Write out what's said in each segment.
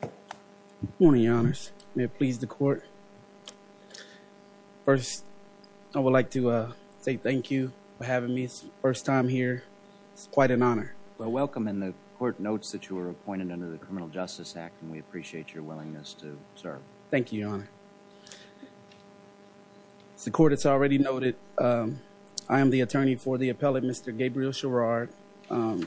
Good morning, your honors. May it please the court. First, I would like to uh say thank you for having me first time here. It's quite an honor. Well, welcome and the court notes that you were appointed under the Criminal Justice Act and we appreciate your willingness to serve. Thank you, your honor. As the court has already noted, I am the attorney for the appellate Mr. Gabriel Sherrod. Um,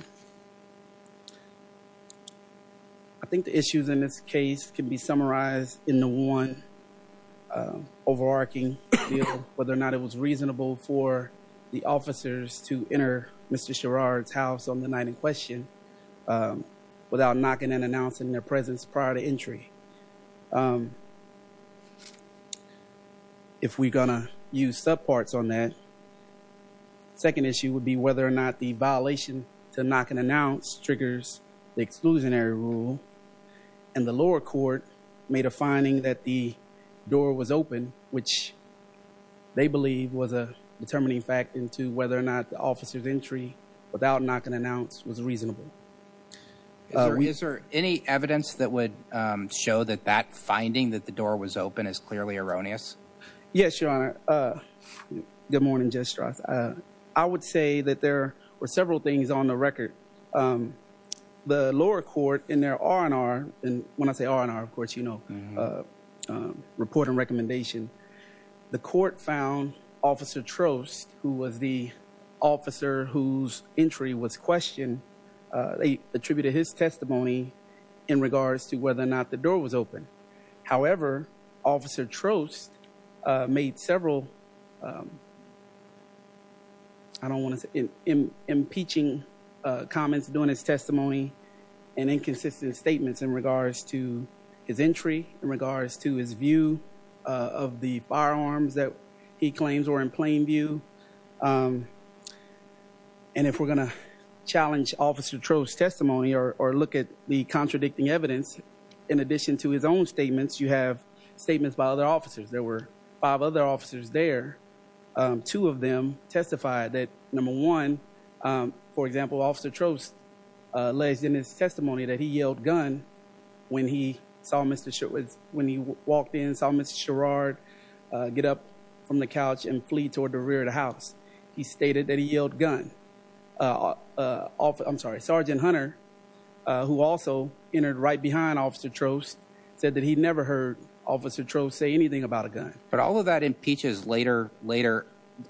I think the issues in this case can be summarized in the one overarching field, whether or not it was reasonable for the officers to enter Mr. Sherrod's house on the night in question, um, without knocking and announcing their presence prior to entry. Um, um, if we're gonna use subparts on that. Second issue would be whether or not the violation to knock and announce triggers the exclusionary rule and the lower court made a finding that the door was open, which they believe was a determining factor into whether or not the officer's entry without knocking announce was reasonable. Is there any evidence that would show that that finding that the door was open is clearly erroneous? Yes, your honor. Uh, good morning, Judge Strauss. Uh, I would say that there were several things on the record. Um, the lower court in their R&R and when I say R&R, of course, you know, uh, uh, report and recommendation. The court found officer Trost, who was the officer whose entry was questioned, uh, attributed his testimony in regards to whether or not the door was open. However, officer Trost, uh, made several, um, I don't want to say impeaching, uh, comments during his testimony and inconsistent statements in regards to his entry, in regards to his view, uh, of the firearms that he claims were in plain view. Um, and if we're going to challenge officer Trost testimony or look at the contradicting evidence, in addition to his own statements, you have statements by other officers. There were five other officers there. Um, two of them testified that number one, um, for example, officer Trost, uh, alleged in his testimony that he yelled gun when he saw Mr. Sherrod, when he walked in and saw Mr. Sherrod, uh, get up from the couch and flee toward the rear of the house. He stated that he yelled gun, uh, uh, I'm sorry, Sergeant Hunter, uh, who also entered right behind officer Trost said that he'd never heard officer Trost say anything about a gun. But all of that impeaches later, later,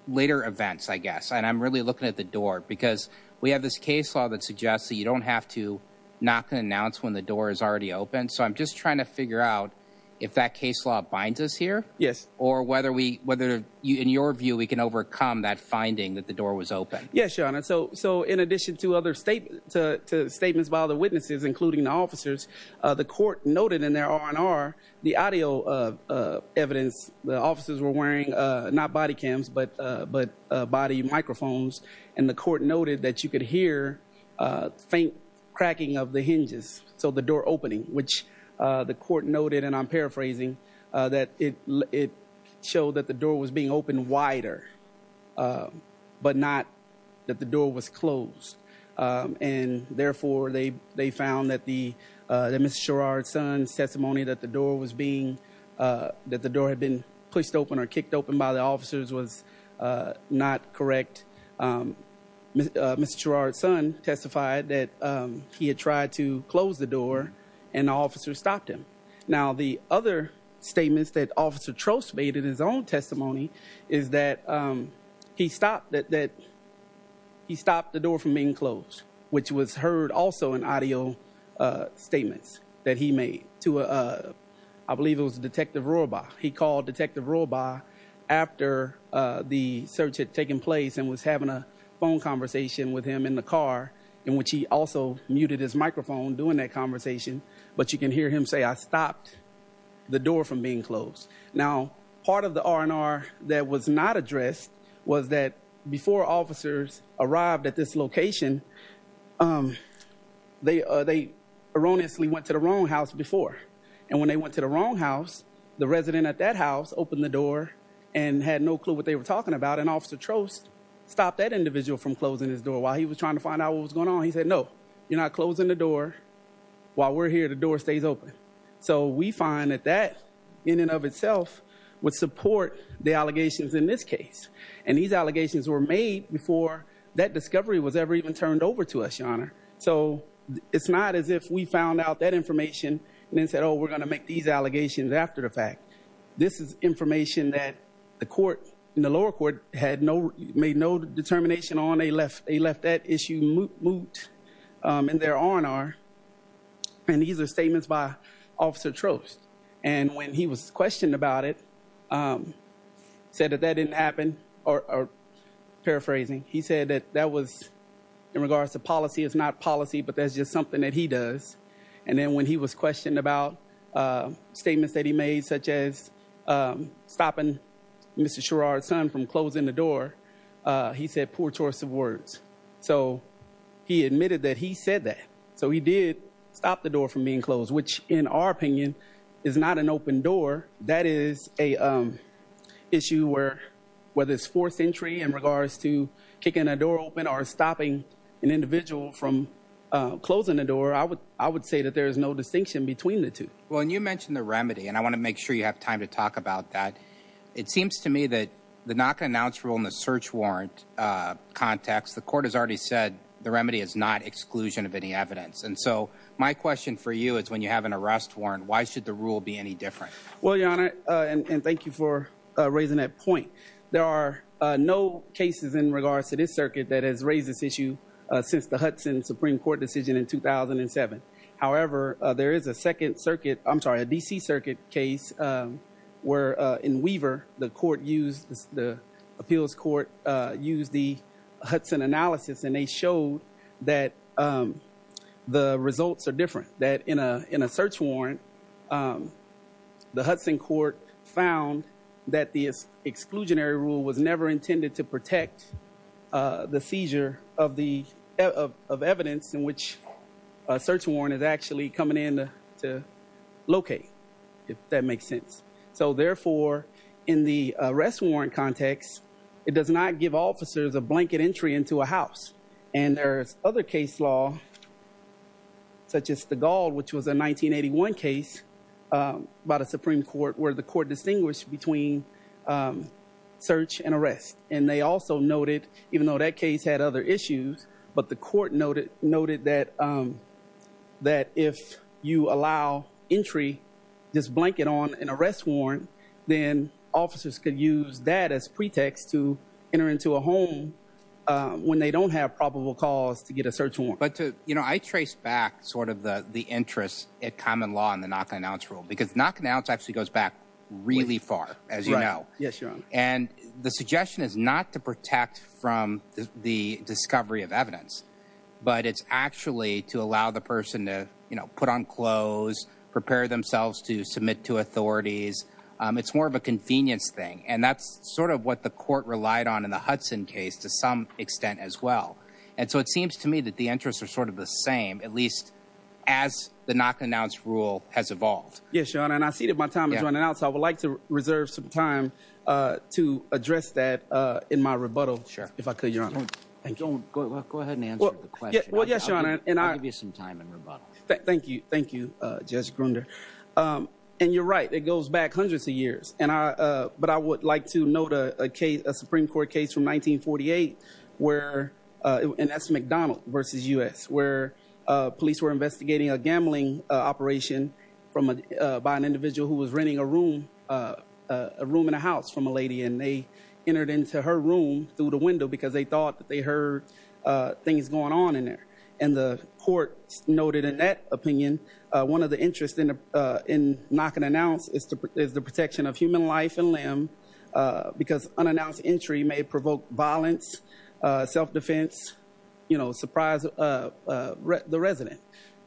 later events, I guess. And I'm really looking at the case law that suggests that you don't have to knock and announce when the door is already open. So I'm just trying to figure out if that case law binds us here or whether we, whether you, in your view, we can overcome that finding that the door was open. Yes, Your Honor. So, so in addition to other statements, to, to statements by other witnesses, including the officers, uh, the court noted in their R and R the audio, uh, uh, evidence the officers were wearing, uh, not body cams, but, uh, but, uh, body microphones. And the court noted that you could hear a faint cracking of the hinges. So the door opening, which, uh, the court noted, and I'm paraphrasing, uh, that it, it showed that the door was being opened wider, uh, but not that the door was closed. Um, and therefore they, they found that the, uh, the Mr. Sherrod son testimony that the door was being, uh, that the door had been pushed open or kicked open by the officers was, uh, not correct. Um, uh, Mr. Sherrod's son testified that, um, he had tried to close the door and the officer stopped him. Now, the other statements that officer Trost made in his own testimony is that, um, he stopped that, that he stopped the door from being closed, which was heard also in audio, uh, statements that he made to, uh, I believe it was a detective robot. He called detective robot after, uh, the search had taken place and was having a phone conversation with him in the car in which he also muted his microphone doing that conversation. But you can hear him say, I stopped the door from being closed. Now, part of the R and R that was not addressed was that before officers arrived at this location, um, they, uh, they erroneously went to the wrong house before. And when they went to the wrong house, the resident at that house opened the door and had no clue what they were talking about. And officer Trost stopped that individual from closing his door while he was trying to find out what was going on. He said, no, you're not closing the door while we're here. The door stays open. So we find that that in and of itself would support the allegations in this case. And these allegations were made before that discovery was ever even turned over to us, your honor. So it's not as if we found out that information and then said, oh, we're going to make these allegations after the fact, this is information that the court in the lower court had no, made no determination on a left. They left that issue moot, moot, um, in their R and R. And these are statements by officer Trost. And when he was questioned about it, um, said that that didn't happen or, or paraphrasing. He said that that was in regards to policy. It's not policy, but that's just something that he does. And then when he was questioned about, uh, statements that he made, such as, um, stopping Mr. Sherrod son from closing the door, uh, he said poor choice of words. So he admitted that he said that. So he did stop the door from being closed, which in our opinion is not an open door. That is a, um, issue where, whether it's fourth century in regards to kicking a door open or stopping an individual from, uh, closing the door, I would, I would say that there is no distinction between the two. Well, and you mentioned the remedy and I want to make sure you have time to talk about that. It seems to me that the knock announced role in the search warrant, uh, context, the court has already said the remedy is not exclusion of any evidence. And so my question for you is when you have an arrest warrant, why should the rule be any different? Well, your honor. Uh, and, and thank you for raising that point. There are no cases in regards to this circuit that has raised this issue, uh, since the Hudson Supreme court decision in 2007. However, uh, there is a second circuit, I'm sorry, a DC circuit case, um, where, uh, in Weaver, the court used the appeals court, uh, used the Hudson analysis and they showed that, um, the results are different that in a, in a search warrant, um, the Hudson court found that the exclusionary rule was never intended to protect, uh, the seizure of the evidence in which a search is actually coming in to locate if that makes sense. So therefore in the arrest warrant context, it does not give officers a blanket entry into a house. And there's other case law such as the gall, which was a 1981 case, um, by the Supreme court where the court distinguished between, um, search and arrest. And they also noted, even though that case had other issues, but the court noted, noted that, um, that if you allow entry, this blanket on an arrest warrant, then officers could use that as pretext to enter into a home, um, when they don't have probable cause to get a search warrant. But to, you know, I traced back sort of the, the interest at common law and the knock on ounce rule, because knock an ounce actually goes back really far as you know, and the suggestion is not to protect from the discovery of evidence, but it's actually to allow the person to, you know, put on clothes, prepare themselves to submit to authorities. Um, it's more of a convenience thing. And that's sort of what the court relied on in the Hudson case to some extent as well. And so it seems to me that the interests are sort of the same, at least as the knock an ounce rule has evolved. Yes, Your Honor. And I see that my time is running out, so I would like to reserve some time, uh, to address that, uh, in my rebuttal. Sure. Thank you. Go ahead and answer the question. Well, yes, Your Honor. And I'll give you some time in rebuttal. Thank you. Thank you, Judge Grunder. Um, and you're right. It goes back hundreds of years. And I, uh, but I would like to note a case, a Supreme court case from 1948 where, uh, and that's McDonald versus U S where, uh, police were investigating a gambling operation from, uh, by an individual who was renting a room, uh, a room in a house from a lady. And they entered into her room through the window because they thought that they heard, uh, things going on in there. And the court noted in that opinion, uh, one of the interest in, uh, in knocking an ounce is the protection of human life and limb, uh, because unannounced entry may provoke violence, uh, self-defense, you know, surprise, uh, uh, the resident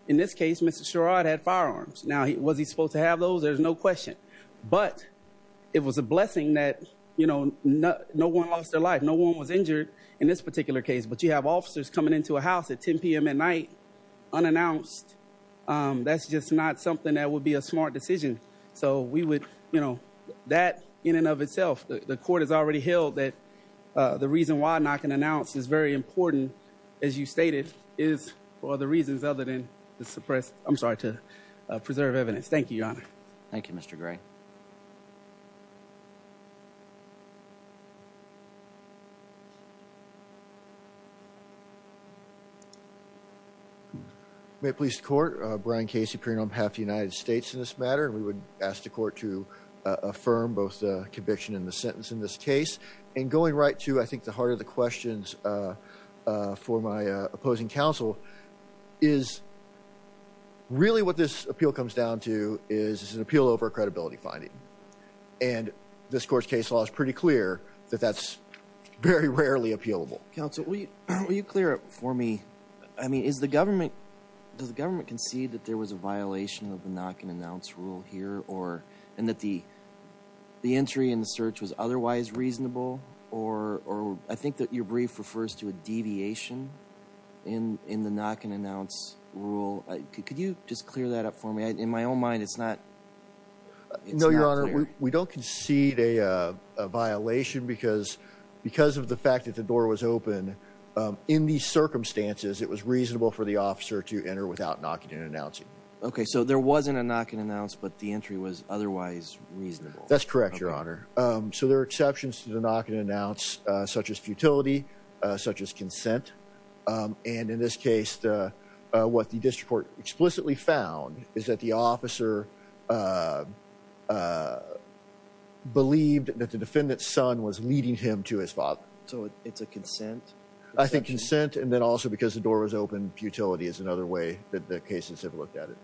in this case, Mr. Sherrod had firearms. Now, was he supposed to have those? There's no question, but it was a blessing that, you know, no, no one lost their life. No one was injured in this particular case, but you have officers coming into a house at 10 PM at night unannounced. Um, that's just not something that would be a smart decision. So we would, you know, that in and of itself, the court has already held that, uh, the reason why knocking an ounce is very important as you stated is for the reasons other than the suppressed, I'm sorry, to preserve evidence. Thank you, Your Honor. Thank you, Mr. Gray. May it please the court, uh, Brian Casey appearing on behalf of the United States in this matter, and we would ask the court to, uh, affirm both the conviction and the sentence in this case and going right to, I think the heart of the questions, uh, uh, for my, uh, opposing counsel is really what this appeal comes down to is an appeal over credibility finding, and this court's case law is pretty clear that that's very rarely appealable. Counsel, will you, will you clear it for me? I mean, is the government, does the government concede that there was a violation of the knocking an ounce rule here or, and that the, the entry in the search was otherwise reasonable or, or I think that your brief refers to a deviation in, in the knocking an ounce rule. Could you just clear that up for me? In my own mind, it's not. No, Your Honor, we don't concede a, uh, a violation because, because of the fact that the door was open, um, in these circumstances, it was reasonable for the officer to enter without knocking an ounce. Okay. So there wasn't a knocking an ounce, but the entry was otherwise reasonable. That's correct, Your Honor. Um, so there are exceptions to the knocking an ounce, such as futility, uh, such as consent. Um, and in this case, uh, uh, what the district explicitly found is that the officer, uh, uh, believed that the defendant's son was leading him to his father. So it's a consent. I think consent. And then also because the door was open, futility is another way that the cases have looked at it.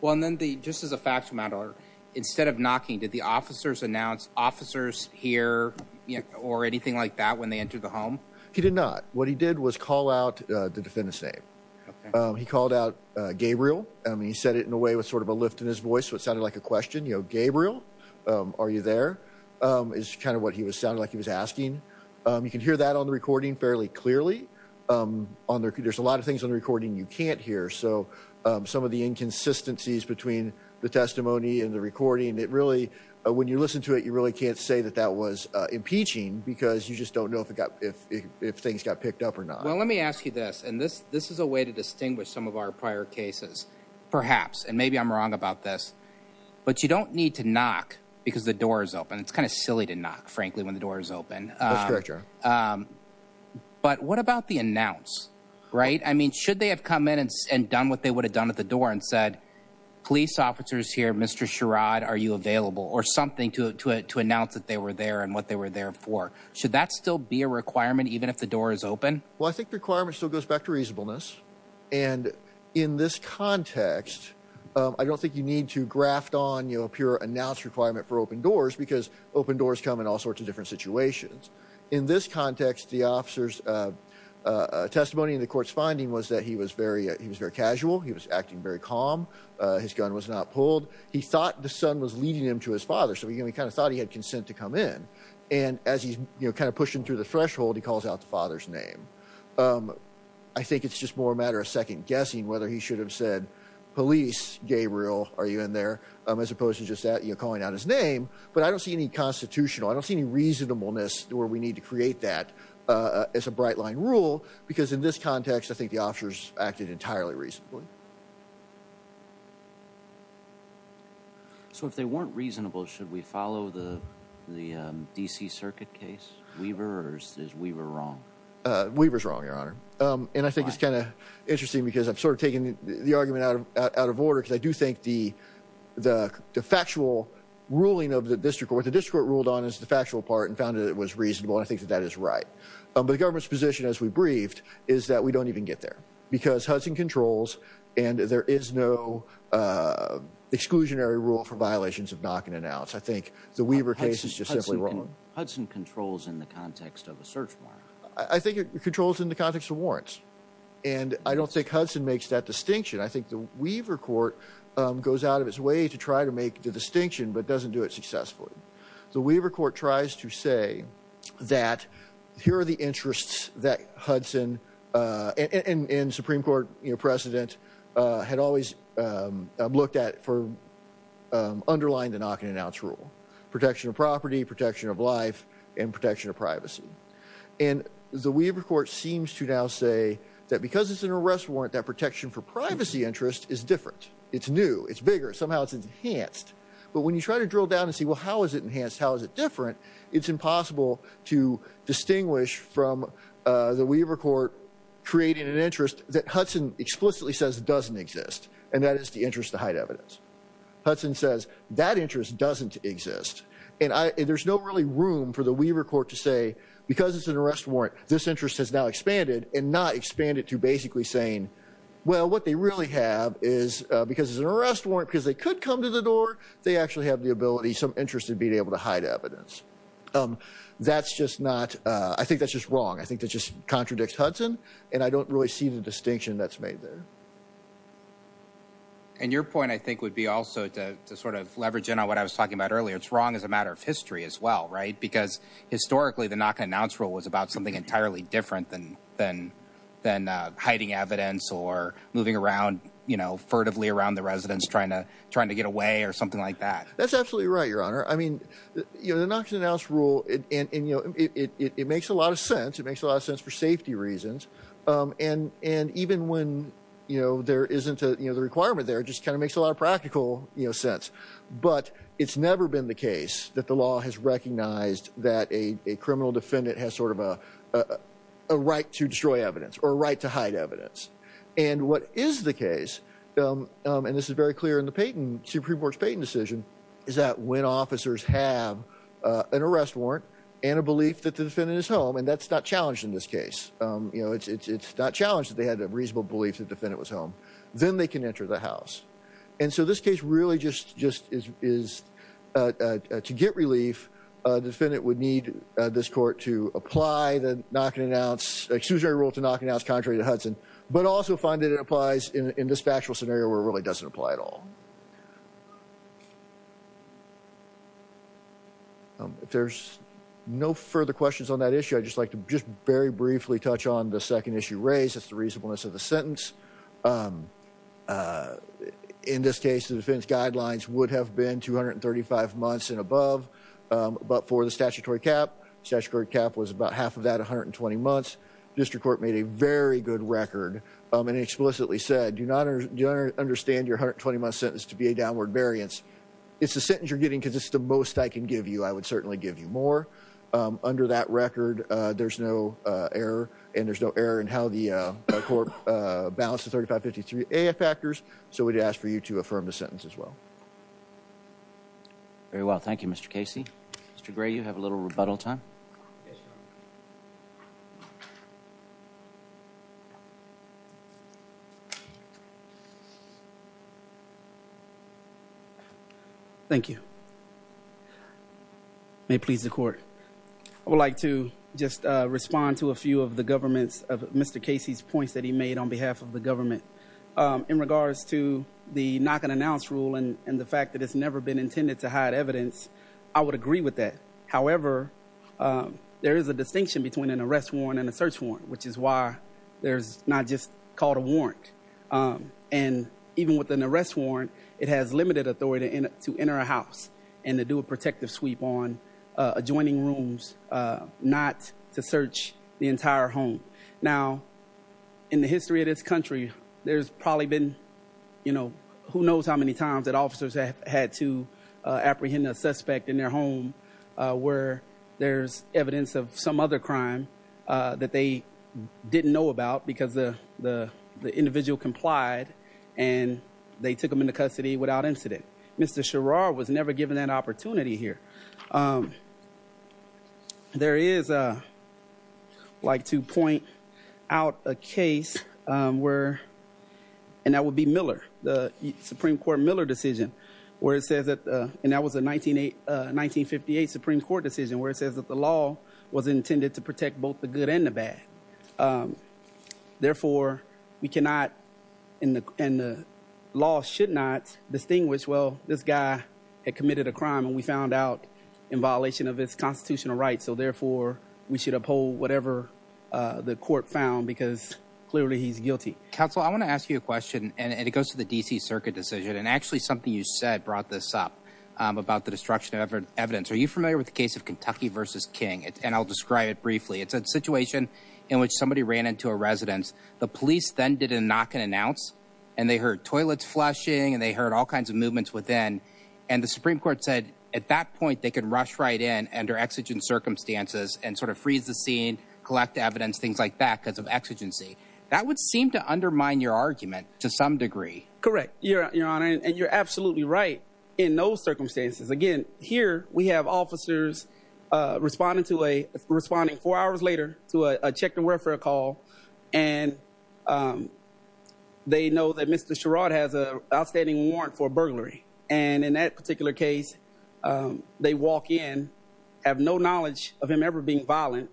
Well, and then the, just as a matter, instead of knocking, did the officers announce officers here or anything like that when they entered the home? He did not. What he did was call out the defendant's name. He called out, uh, Gabriel. I mean, he said it in a way with sort of a lift in his voice. So it sounded like a question, you know, Gabriel, um, are you there? Um, is kind of what he was sounding like he was asking. Um, you can hear that on the recording fairly clearly, um, on there. There's a lot of things on the recording you can't hear. So, um, some of the inconsistencies between the testimony and the recording, it really, uh, when you listen to it, you really can't say that that was, uh, impeaching because you just don't know if it got, if, if, if things got picked up or not. Well, let me ask you this. And this, this is a way to distinguish some of our prior cases, perhaps, and maybe I'm wrong about this, but you don't need to knock because the door is open. It's kind of silly to knock frankly, when the door is open. Um, but what about the announce, right? I mean, should they have come in and done what they would have done at the door and said, police officers here, Mr. Sherrod, are you available or something to, to, to announce that they were there and what they were there for? Should that still be a requirement, even if the door is open? Well, I think the requirement still goes back to reasonableness. And in this context, um, I don't think you need to graft on, you know, a pure announce requirement for open doors because open doors come in all sorts of different situations. In this context, the court's finding was that he was very, he was very casual. He was acting very calm. Uh, his gun was not pulled. He thought the son was leading him to his father. So, you know, he kind of thought he had consent to come in. And as he's kind of pushing through the threshold, he calls out the father's name. Um, I think it's just more a matter of second guessing, whether he should have said police, Gabriel, are you in there? Um, as opposed to just that, you're calling out his name, but I don't see any constitutional, I don't see any reasonableness where we need to create that, uh, as a bright line rule, because in this context, I think the officers acted entirely reasonably. So if they weren't reasonable, should we follow the, the, um, DC circuit case? Weaver or is Weaver wrong? Uh, Weaver's wrong, your honor. Um, and I think it's kind of interesting because I've sort of taken the argument out of, out of order. Cause I do think the, the, the factual ruling of the district court, the district court ruled on is the factual part and found that it was reasonable. And I think that that is right. Um, but the government's position as we briefed is that we don't even get there because Hudson controls and there is no, uh, exclusionary rule for violations of knocking it out. I think the Weaver case is just simply wrong. Hudson controls in the context of a search warrant. I think it controls in the context of warrants. And I don't think Hudson makes that distinction. I think the Weaver court, um, goes out of its way to try to make the distinction, but doesn't do it successfully. The Weaver court tries to say that here are the interests that Hudson, uh, and, and, and Supreme court, you know, president, uh, had always, um, looked at for, um, underlying the knocking it out rule, protection of property, protection of life and protection of privacy. And the Weaver court seems to now say that because it's an arrest warrant, that protection for privacy interest is different. It's new, it's bigger, somehow it's enhanced, but when you try to drill down and see, well, how is it enhanced? How is it different? It's impossible to distinguish from, uh, the Weaver court creating an interest that Hudson explicitly says it doesn't exist. And that is the interest to hide evidence. Hudson says that interest doesn't exist. And I, there's no really room for the Weaver court to say, because it's an arrest warrant, this interest has now expanded and not expanded to basically saying, well, what they really have is, uh, because it's an arrest warrant because they could come to the door. They actually have the ability, some interest in being able to hide evidence. Um, that's just not, uh, I think that's just wrong. I think that just contradicts Hudson and I don't really see the distinction that's made there. And your point, I think would be also to, to sort of leverage in on what I was talking about earlier. It's wrong as a matter of history as well, right? Because historically the knock and announce rule was about something entirely different than, than, than, uh, hiding evidence or moving around, you know, furtively around the residence, trying to, trying to get away or something like that. That's absolutely right. Your honor. I mean, you know, the knocks and announce rule and, and, and, you know, it, it, it, it makes a lot of sense. It makes a lot of sense for safety reasons. Um, and, and even when, you know, there isn't a, you know, the requirement there just kind of makes a lot of practical, you know, sense, but it's never been the case that the law has recognized that a, a criminal defendant has sort of a, uh, a right to destroy evidence or right to hide evidence. And what is the case? Um, um, and this is very clear in the Peyton Supreme Court's Peyton decision is that when officers have, uh, an arrest warrant and a belief that the defendant is home, and that's not challenged in this case. Um, you know, it's, it's, it's not challenged that they had a reasonable belief that defendant was home, then they can enter the house. And so this case really just, just is, is, uh, uh, to get relief, uh, defendant would need, uh, this court to apply the knock and announce, excusory rule to knock and announce contrary to Hudson, but also find that it applies in, in this factual scenario where it really doesn't apply at all. Um, if there's no further questions on that issue, I'd just like to just very briefly touch on the second issue raised, it's the reasonableness of the sentence. Um, uh, in this case, the defense guidelines would have been 235 months and above, um, but for the statutory cap, statutory cap was about half of that 120 months. District court made a very good record, um, and explicitly said, do not understand your 120 month sentence to be a downward variance. It's the sentence you're getting, cause it's the most I can give you. I would certainly give you more, um, under that record, uh, there's no, uh, error and there's no error in how the, uh, court, uh, balances 3553 AF factors. So we'd ask for you to Mr. Gray, you have a little rebuttal time. Thank you. May please the court. I would like to just, uh, respond to a few of the governments of Mr. Casey's points that he made on behalf of the government, um, in regards to the knock and and the fact that it's never been intended to hide evidence. I would agree with that. However, um, there is a distinction between an arrest warrant and a search warrant, which is why there's not just called a warrant. Um, and even with an arrest warrant, it has limited authority to enter a house and to do a protective sweep on, uh, adjoining rooms, uh, not to search the entire home. Now in the history of this country, there's probably been, you know, who knows how many times that officers have had to, uh, apprehend a suspect in their home, uh, where there's evidence of some other crime, uh, that they didn't know about because the, the, the individual complied and they took them into custody without incident. Mr. Sherar was never given that opportunity here. Um, there is a, like to point out a case, um, where, and that would be Miller, the Supreme Court Miller decision, where it says that, uh, and that was a 19, uh, 1958 Supreme Court decision where it says that the law was intended to protect both the good and the bad. Um, therefore we cannot in the, in the law should not distinguish. Well, this guy had committed a crime and we found out in violation of his constitutional rights. So therefore we should uphold whatever, uh, the court found because clearly he's guilty. Counsel, I want to ask you a question and it goes to the DC circuit decision. And actually something you said brought this up, um, about the destruction of evidence. Are you familiar with the case of Kentucky versus King? And I'll describe it briefly. It's a situation in which somebody ran into a residence. The police then did a knock and announce and they heard toilets flushing and they heard all kinds of movements within. And the Supreme Court said at that point, they could rush right in under exigent circumstances and sort of freeze the scene, collect evidence, things like that because of exigency that would seem to undermine your argument to some degree. Correct. You're you're on it. And you're absolutely right. In those circumstances. Again, here we have officers, uh, responding to a responding four hours later to a check the welfare call. And, um, they know that Mr. Sherrod has a outstanding warrant for burglary. And in that particular case, um, they walk in, have no knowledge of him ever being violent.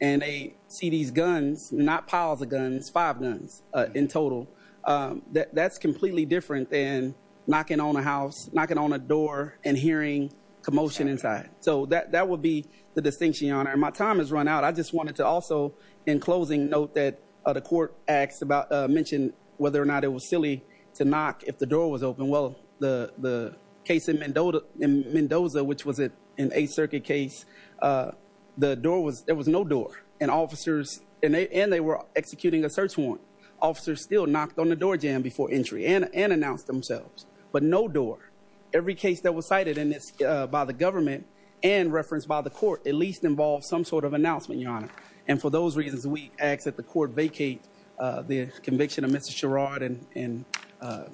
And they see these guns, not piles of guns, five guns in total. Um, that that's completely different than knocking on a house, knocking on a door and hearing commotion inside. So that, that would be the distinction on it. And my time has run out. I just wanted to also in closing note that, uh, the court acts about, uh, mentioned whether or not it was silly to knock if the door was open. Well, the, the case in Mendoza, Mendoza, which was it in a circuit case, uh, the door was, there was no door and officers and they, and they were executing a search warrant officer still knocked on the door jam before entry and, and announced themselves, but no door, every case that was cited in this, uh, by the government and referenced by the court, at least involved some sort of announcement, your honor. And for those reasons, we ask that the court vacate, uh, the conviction of Mr. Sherrod and, and, uh,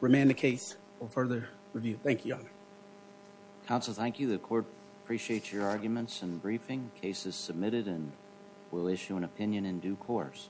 remain the case or further review. Thank you. Counsel. Thank you. The court appreciates your arguments and briefing cases submitted and we'll issue an opinion in due course.